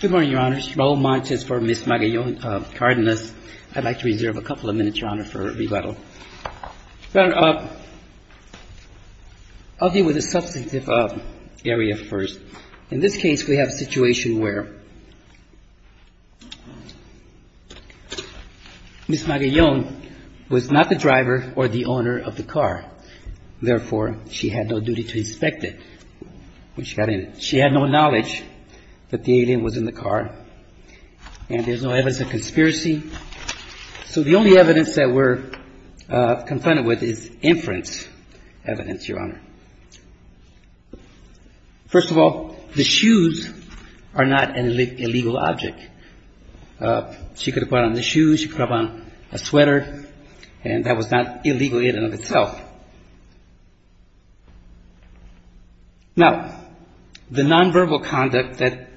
Good morning, Your Honors. Raul Montes for Ms. Magallon-Cardenas. I'd like to reserve a couple of minutes, Your Honor, for rebuttal. I'll deal with the substantive area first. In this case, we have a situation where Ms. Magallon was not the driver or the owner of the car. Therefore, she had no duty to inspect it when she got in. She had no knowledge that the alien was in the car, and there's no evidence of conspiracy. So the only evidence that we're confronted with is inference evidence, Your Honor. First of all, the shoes are not an illegal object. She could have put on the shoes, she could have put on a sweater, and that was not illegal in and of itself. Now, the nonverbal conduct that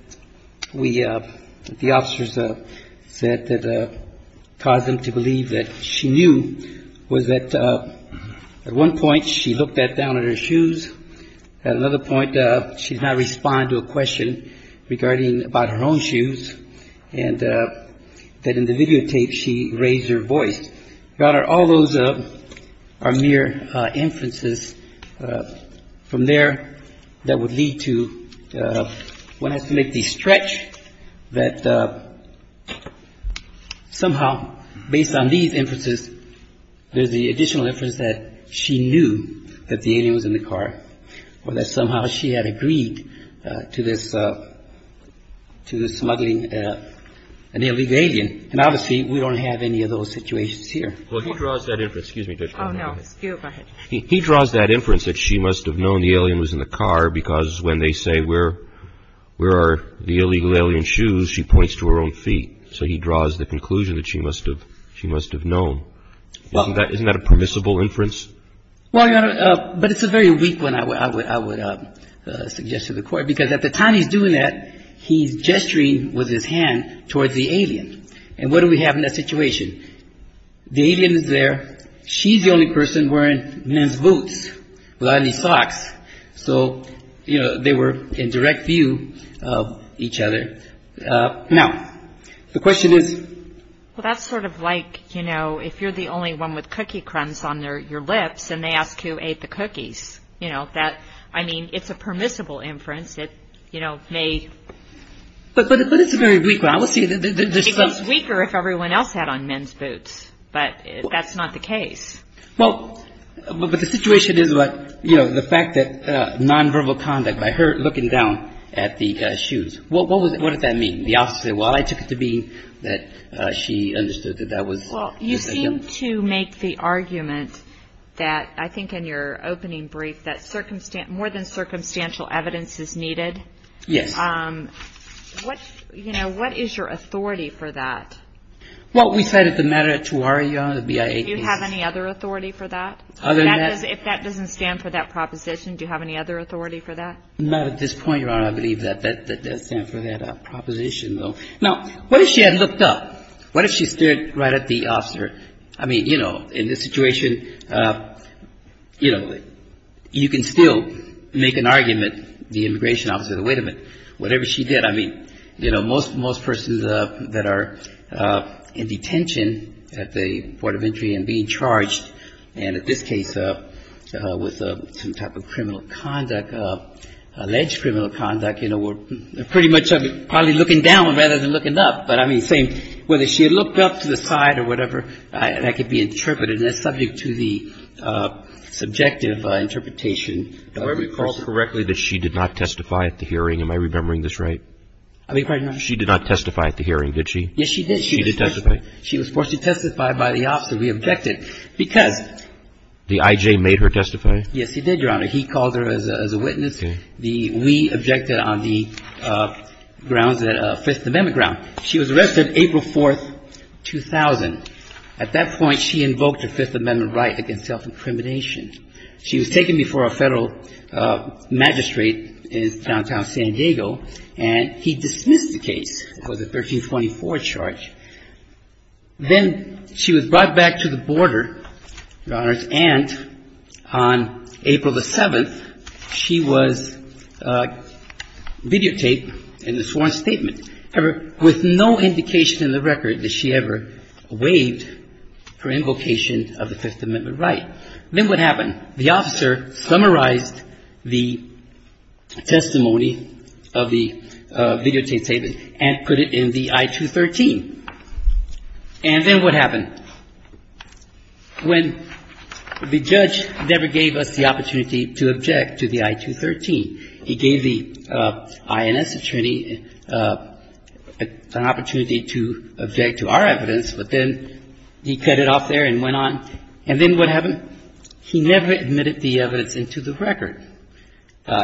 we, the officers said that caused them to believe that she knew was that at one point she looked down at her shoes, at another point she did not respond to a question regarding about her own shoes, and that in the videotape she raised her voice. Your Honor, all those are mere inferences. From there, that would lead to one has to make the stretch that somehow based on these inferences, there's the additional inference that she knew that the alien was in the car or that somehow she had agreed to this smuggling an illegal alien. And obviously, we don't have any of those situations here. Well, he draws that inference. Oh, no. Go ahead. He draws that inference that she must have known the alien was in the car because when they say where are the illegal alien shoes, she points to her own feet. So he draws the conclusion that she must have known. Isn't that a permissible inference? Well, Your Honor, but it's a very weak one, I would suggest to the Court, because at the time he's doing that, he's gesturing with his hand towards the alien. And what do we have in that situation? The alien is there. She's the only person wearing men's boots without any socks. So, you know, they were in direct view of each other. Now, the question is? Well, that's sort of like, you know, if you're the only one with cookie crumbs on your lips and they ask who ate the cookies. You know, that, I mean, it's a permissible inference. But it's a very weak one. It would be weaker if everyone else had on men's boots. But that's not the case. Well, but the situation is, you know, the fact that nonverbal conduct by her looking down at the shoes. What does that mean? The officer said, well, I took it to mean that she understood that that was him. Well, you seem to make the argument that I think in your opening brief that more than circumstantial evidence is needed. Yes. What, you know, what is your authority for that? Well, we cited the matter at Tuwara, Your Honor, the BIA case. Do you have any other authority for that? Other than that? If that doesn't stand for that proposition, do you have any other authority for that? Not at this point, Your Honor, I believe that that does stand for that proposition, though. Now, what if she had looked up? What if she stood right at the officer? I mean, you know, in this situation, you know, you can still make an argument, the immigration officer, wait a minute, whatever she did, I mean, you know, most persons that are in detention at the port of entry and being charged, and in this case with some type of criminal conduct, alleged criminal conduct, you know, were pretty much probably looking down rather than looking up. But, I mean, same, whether she had looked up to the side or whatever, that could be interpreted, and that's subject to the subjective interpretation of every person. Are you recalling correctly that she did not testify at the hearing? Am I remembering this right? I think you're probably not. She did not testify at the hearing, did she? Yes, she did. She did testify. She was forced to testify by the officer. We objected because the I.J. made her testify. Yes, he did, Your Honor. He called her as a witness. Okay. We objected on the grounds that a Fifth Amendment ground. She was arrested April 4th, 2000. At that point, she invoked a Fifth Amendment right against self-incrimination. She was taken before a Federal magistrate in downtown San Diego, and he dismissed the case. It was a 1324 charge. Then she was brought back to the border, Your Honors, and on April the 7th, she was videotaped in the sworn statement. However, with no indication in the record that she ever waived her invocation of the Fifth Amendment right. Then what happened? The officer summarized the testimony of the videotaped statement and put it in the I-213. And then what happened? When the judge never gave us the opportunity to object to the I-213, he gave the INS attorney an opportunity to object to our evidence, but then he cut it off there and went on. And then what happened? He never admitted the evidence into the record.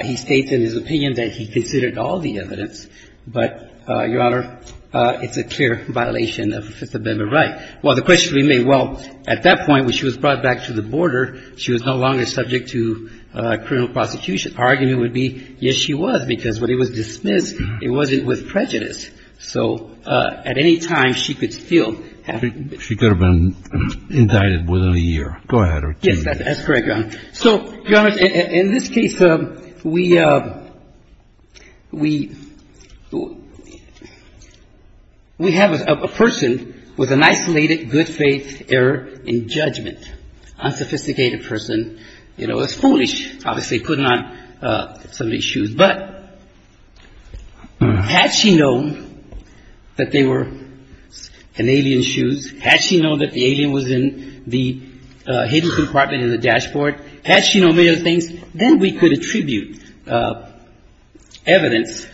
He states in his opinion that he considered all the evidence. But, Your Honor, it's a clear violation of the Fifth Amendment right. Well, the question remains, well, at that point when she was brought back to the border, she was no longer subject to criminal prosecution. Our argument would be, yes, she was, because when it was dismissed, it wasn't with prejudice. So at any time, she could still have been. She could have been indicted within a year. Go ahead. Yes, that's correct, Your Honor. So, Your Honors, in this case, we have a person with an isolated good faith error in judgment, unsophisticated person. You know, it's foolish, obviously, putting on somebody's shoes. But had she known that they were an alien's shoes, had she known that the alien was in the hidden compartment in the dashboard, had she known many other things, then we could attribute evidence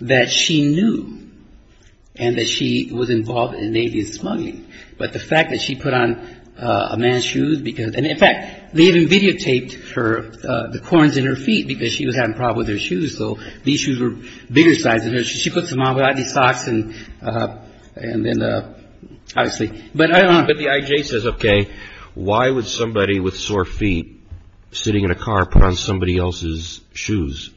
that she knew and that she was involved in an alien smuggling. But the fact that she put on a man's shoes because, and in fact, they even videotaped her, the corns in her feet, because she was having problems with her shoes. So these shoes were bigger size than hers. She puts them on without any socks and then, obviously. But I don't know. But the I.J. says, okay, why would somebody with sore feet sitting in a car put on somebody else's shoes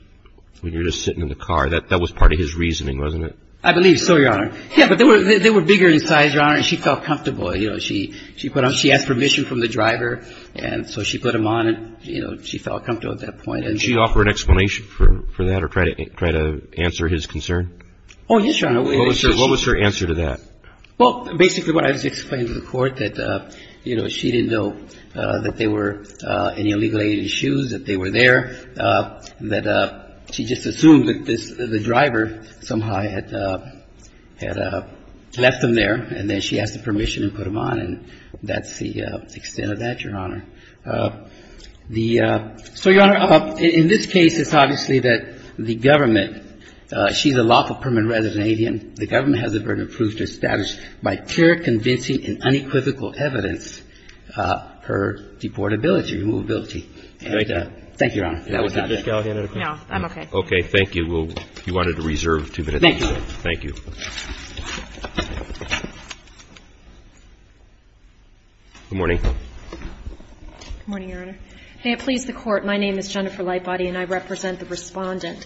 when you're just sitting in the car? That was part of his reasoning, wasn't it? I believe so, Your Honor. Yeah, but they were bigger in size, Your Honor, and she felt comfortable. You know, she put on. She had permission from the driver. And so she put them on and, you know, she felt comfortable at that point. Did she offer an explanation for that or try to answer his concern? Oh, yes, Your Honor. What was her answer to that? Well, basically what I was explaining to the court that, you know, she didn't know that they were any illegal alien's shoes, that they were there, that she just assumed that the driver somehow had left them there and then she asked for permission and put them on. And that's the extent of that, Your Honor. So, Your Honor, in this case, it's obviously that the government, she's a lawful permanent resident alien. The government has the burden of proof to establish by clear, convincing and unequivocal evidence her deportability, her movability. Thank you, Your Honor. That was it. Ms. Gallagher, another question? No, I'm okay. Okay. Thank you. You wanted to reserve two minutes. Thank you. Thank you. Good morning. Good morning, Your Honor. May it please the Court, my name is Jennifer Lightbody and I represent the Respondent.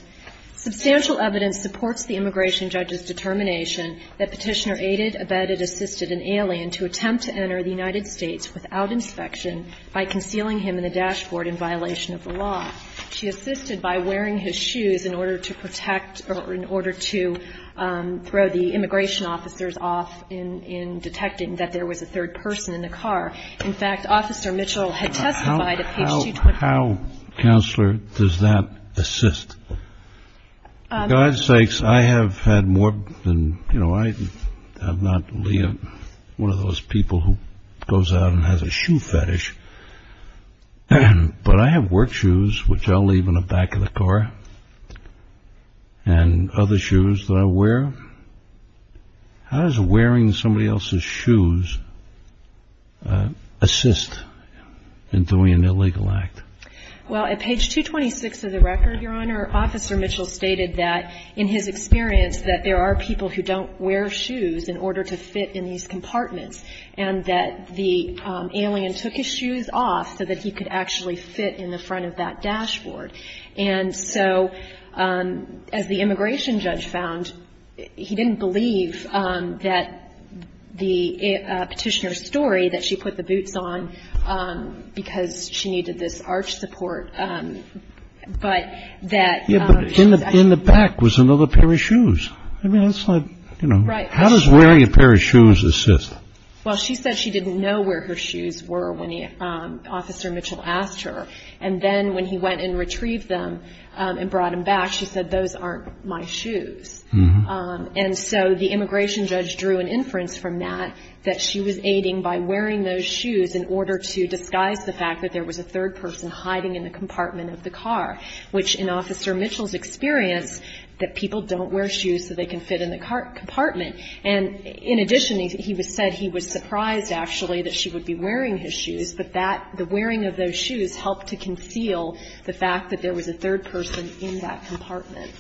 Substantial evidence supports the immigration judge's determination that Petitioner aided, abetted, assisted an alien to attempt to enter the United States without inspection by concealing him in the dashboard in violation of the law. She assisted by wearing his shoes in order to protect or in order to throw the immigration officers off in detecting that there was a third person in the car. In fact, Officer Mitchell had testified at page 22. How, Counselor, does that assist? For God's sakes, I have had more than, you know, I am not one of those people who goes out and has a shoe fetish. But I have work shoes, which I'll leave in the back of the car, and other shoes that I wear. How does wearing somebody else's shoes assist in doing an illegal act? Well, at page 226 of the record, Your Honor, Officer Mitchell stated that, in his experience, that there are people who don't wear shoes in order to fit in these compartments, and that the alien took his shoes off so that he could actually fit in the front of that dashboard. And so as the immigration judge found, he didn't believe that the Petitioner's story, that she put the boots on because she needed this arch support, but that. Yeah, but in the back was another pair of shoes. I mean, that's like, you know, how does wearing a pair of shoes assist? Well, she said she didn't know where her shoes were when Officer Mitchell asked her. And then when he went and retrieved them and brought them back, she said, those aren't my shoes. And so the immigration judge drew an inference from that that she was aiding by wearing those shoes in order to disguise the fact that there was a third person hiding in the compartment of the car, which in Officer Mitchell's experience, that people don't wear shoes so they can fit in the compartment. And in addition, he said he was surprised, actually, that she would be wearing his shoes, but that the wearing of those shoes helped to conceal the fact that there was a third person in that compartment.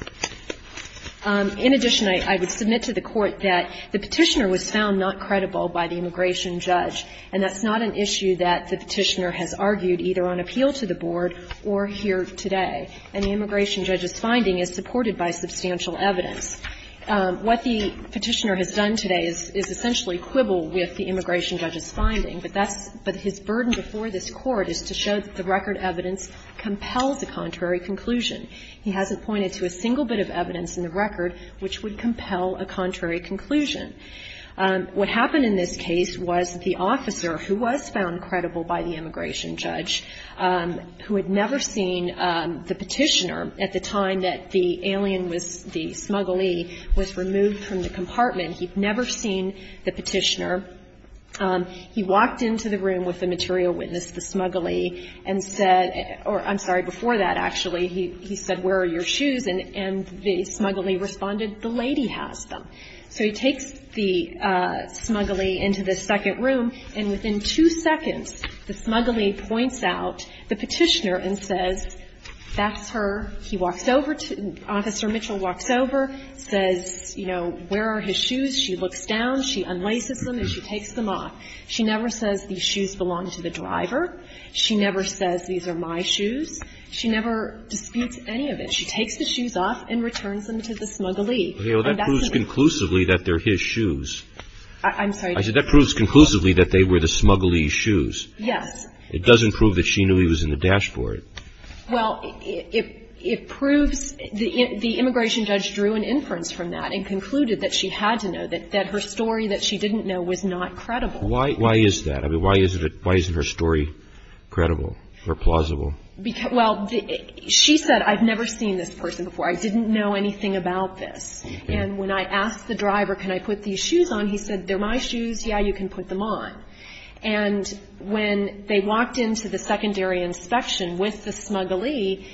In addition, I would submit to the Court that the Petitioner was found not credible by the immigration judge, and that's not an issue that the Petitioner has argued either on appeal to the Board or here today. And the immigration judge's finding is supported by substantial evidence. What the Petitioner has done today is essentially quibble with the immigration judge's finding, but that's — but his burden before this Court is to show that the record evidence compels a contrary conclusion. He hasn't pointed to a single bit of evidence in the record which would compel a contrary conclusion. What happened in this case was the officer, who was found credible by the immigration judge, who had never seen the Petitioner at the time that the alien was — the smugglee was removed from the compartment, he'd never seen the Petitioner. He walked into the room with the material witness, the smugglee, and said — or, I'm sorry, before that, actually, he said, where are your shoes? And the smugglee responded, the lady has them. So he takes the smugglee into the second room, and within two seconds, the smugglee points out the Petitioner and says, that's her. He walks over to — Officer Mitchell walks over, says, you know, where are his shoes? She looks down, she unlaces them, and she takes them off. She never says, these shoes belong to the driver. She never says, these are my shoes. She never disputes any of it. She takes the shoes off and returns them to the smugglee. And that's the — But, you know, that proves conclusively that they're his shoes. I'm sorry. I said that proves conclusively that they were the smugglee's shoes. Yes. It doesn't prove that she knew he was in the dashboard. Well, it proves — the immigration judge drew an inference from that and concluded that she had to know, that her story that she didn't know was not credible. Why is that? I mean, why isn't her story credible or plausible? Well, she said, I've never seen this person before. I didn't know anything about this. And when I asked the driver, can I put these shoes on, he said, they're my shoes, yeah, you can put them on. And when they walked into the secondary inspection with the smugglee,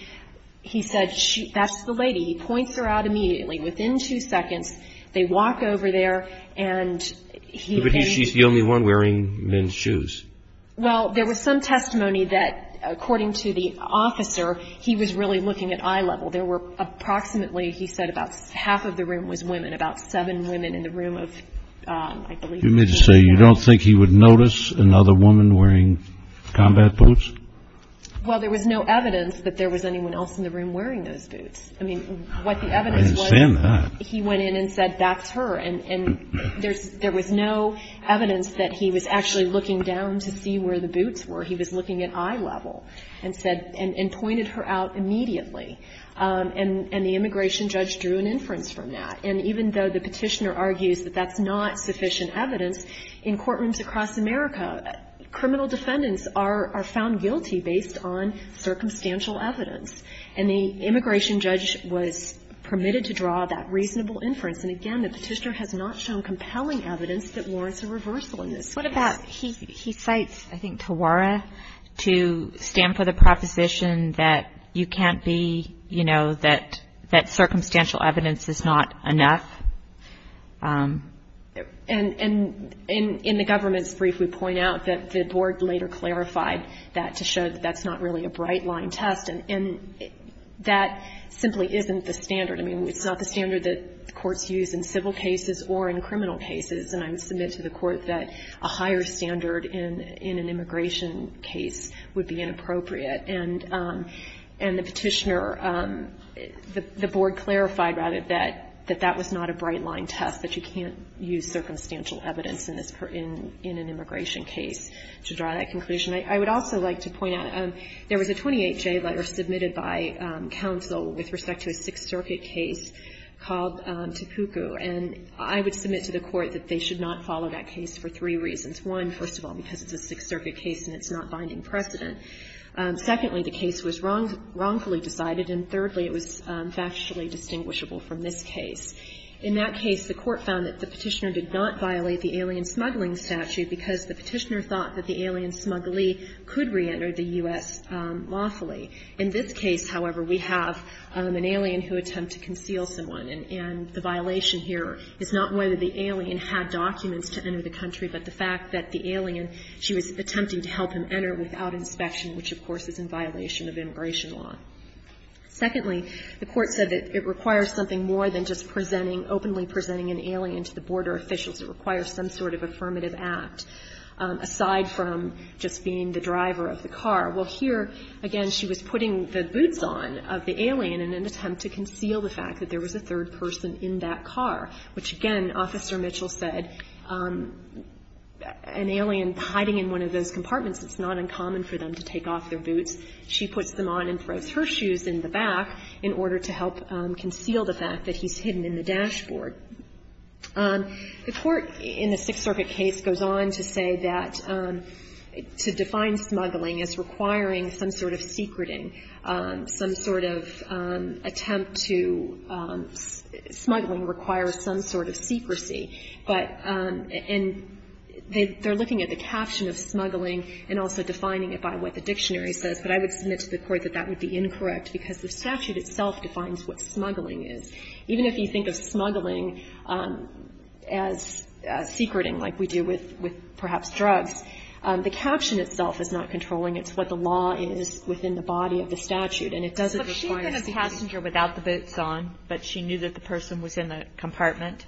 he said, that's the lady. He points her out immediately. Within two seconds, they walk over there and he — But she's the only one wearing men's shoes. Well, there was some testimony that, according to the officer, he was really looking at eye level. There were approximately, he said, about half of the room was women, about seven women in the room of, I believe — You mean to say you don't think he would notice another woman wearing combat boots? Well, there was no evidence that there was anyone else in the room wearing those boots. I mean, what the evidence was — I understand that. He went in and said, that's her. And there was no evidence that he was actually looking down to see where the boots were. He was looking at eye level and said — and pointed her out immediately. And the immigration judge drew an inference from that. And even though the petitioner argues that that's not sufficient evidence, in courtrooms across America, criminal defendants are found guilty based on circumstantial evidence. And the immigration judge was permitted to draw that reasonable inference. And, again, the petitioner has not shown compelling evidence that warrants a reversal in this case. What about — he cites, I think, Tawara to stand for the proposition that you can't be, you know, that circumstantial evidence is not enough. And in the government's brief, we point out that the board later clarified that to show that that's not really a bright-line test. And that simply isn't the standard. I mean, it's not the standard that courts use in civil cases or in criminal cases. And I would submit to the court that a higher standard in an immigration case would be inappropriate. And the petitioner — the board clarified, rather, that that was not a bright-line test, that you can't use circumstantial evidence in this — in an immigration case to draw that conclusion. I would also like to point out, there was a 28-J letter submitted by counsel with respect to a Sixth Circuit case called Tipuku. And I would submit to the court that they should not follow that case for three reasons. One, first of all, because it's a Sixth Circuit case and it's not binding precedent. Secondly, the case was wrongfully decided. And thirdly, it was factually distinguishable from this case. In that case, the court found that the petitioner did not violate the alien smuggling statute because the petitioner thought that the alien smugglee could reenter the U.S. lawfully. In this case, however, we have an alien who attempted to conceal someone. And the violation here is not whether the alien had documents to enter the country, but the fact that the alien, she was attempting to help him enter without inspection, which, of course, is in violation of immigration law. Secondly, the court said that it requires something more than just presenting — openly presenting an alien to the border officials. It requires some sort of affirmative act, aside from just being the driver of the car. Well, here, again, she was putting the boots on of the alien in an attempt to conceal the fact that there was a third person in that car, which, again, Officer Mitchell said, an alien hiding in one of those compartments, it's not uncommon for them to take off their boots. She puts them on and throws her shoes in the back in order to help conceal the fact that he's hidden in the dashboard. The court in the Sixth Circuit case goes on to say that to define smuggling as requiring some sort of secreting, some sort of attempt to — smuggling requires some sort of secrecy. But — and they're looking at the caption of smuggling and also defining it by what the dictionary says, but I would submit to the court that that would be incorrect because the statute itself defines what smuggling is. Even if you think of smuggling as secreting, like we do with perhaps drugs, the caption itself is not controlling. It's what the law is within the body of the statute, and it doesn't require secreting. Kagan, I have a question. If the agent said that the passenger without the boots on, but she knew that the person was in the compartment,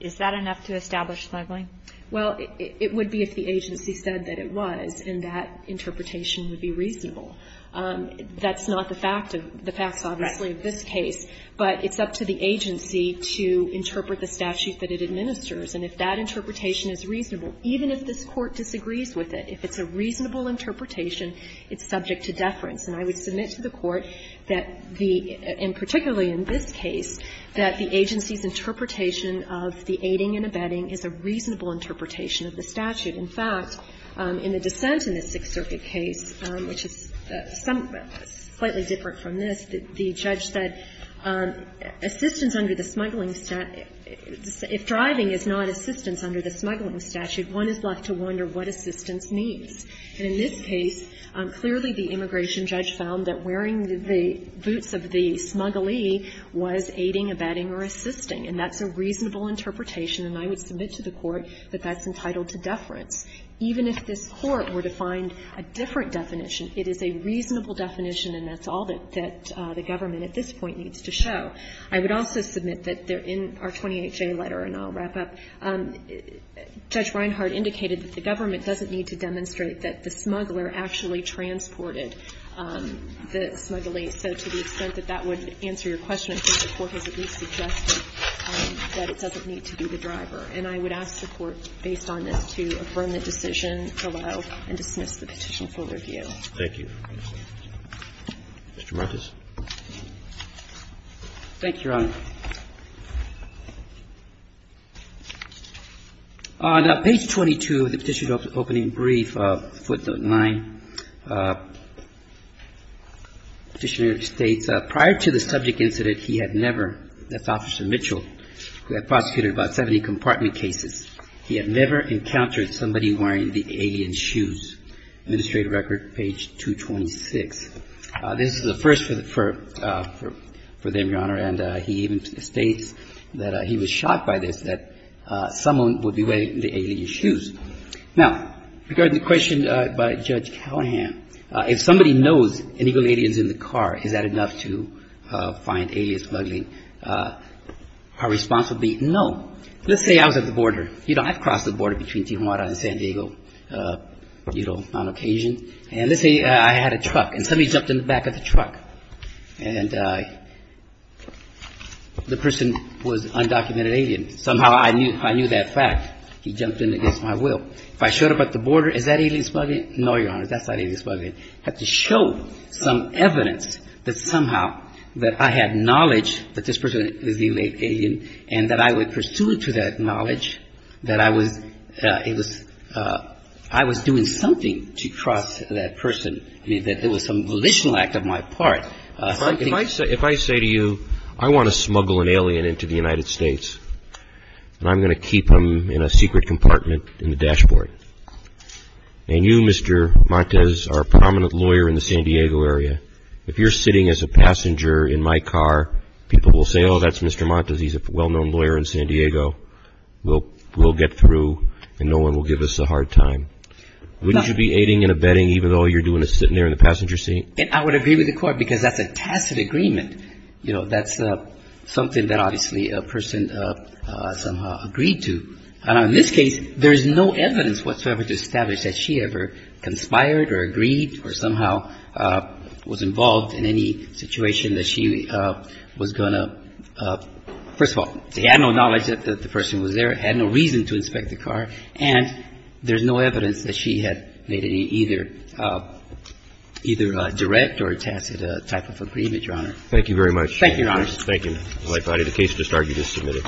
is that enough to establish smuggling? Well, it would be if the agency said that it was, and that interpretation would be reasonable. That's not the fact of — the facts, obviously, of this case. But it's up to the agency to interpret the statute that it administers. And if that interpretation is reasonable, even if this Court disagrees with it, if it's a reasonable interpretation, it's subject to deference. And I would submit to the Court that the — and particularly in this case, that the agency's interpretation of the aiding and abetting is a reasonable interpretation of the statute. In fact, in the dissent in the Sixth Circuit case, which is some — slightly different from this, the judge said, assistance under the smuggling — if driving is not assistance under the smuggling statute, one is left to wonder what assistance means. And in this case, clearly the immigration judge found that wearing the boots of the smugglee was aiding, abetting, or assisting. And that's a reasonable interpretation, and I would submit to the Court that that's entitled to deference. Even if this Court were to find a different definition, it is a reasonable definition, and that's all that the government at this point needs to show. I would also submit that in our 28-J letter, and I'll wrap up, Judge Reinhard indicated that the government doesn't need to demonstrate that the smuggler actually transported the smugglee, so to the extent that that would answer your question, I think the Court has at least suggested that it doesn't need to be the driver. And I would ask the Court, based on this, to affirm the decision below and dismiss the petition for review. Roberts. Thank you, Your Honor. Now, page 22 of the petition opening brief, footnote 9, the petitioner states, prior to the subject incident, he had never, that's Officer Mitchell, who had prosecuted about 70 compartment cases, he had never encountered somebody wearing the alien shoes. Administrative record, page 226. This is a first for them, Your Honor, and he even states that he was shocked by this, that someone would be wearing the alien shoes. Now, regarding the question by Judge Callahan, if somebody knows an illegal alien is in the car, is that enough to find alias smuggling? A response would be no. Let's say I was at the border. You know, I've crossed the border between Tijuana and San Diego, you know, on occasion. And let's say I had a truck, and somebody jumped in the back of the truck, and the person was undocumented alien. Somehow I knew that fact. He jumped in against my will. If I showed up at the border, is that alien smuggling? No, Your Honor, that's not alien smuggling. I had to show some evidence that somehow that I had knowledge that this person was the illegal alien and that I would pursue to that knowledge that I was, it was, I was doing something to trust that person, that it was some volitional act of my part. If I say to you, I want to smuggle an alien into the United States, and I'm going to keep him in a secret compartment in the dashboard, and you, Mr. Montes, are a prominent lawyer in the San Diego area, if you're sitting as a passenger in my car, people will say, oh, that's Mr. Montes. He's a well-known lawyer in San Diego. We'll get through, and no one will give us a hard time. Wouldn't you be aiding and abetting even though all you're doing is sitting there in the passenger seat? I would agree with the court because that's a tacit agreement. You know, that's something that obviously a person somehow agreed to. In this case, there's no evidence whatsoever to establish that she ever conspired or agreed or somehow was involved in any situation that she was going to, first of all, she had no reason to inspect the car, and there's no evidence that she had made any either direct or tacit type of agreement, Your Honor. Thank you very much. Thank you, Your Honor. Thank you. If I had a case to start, you just submit it.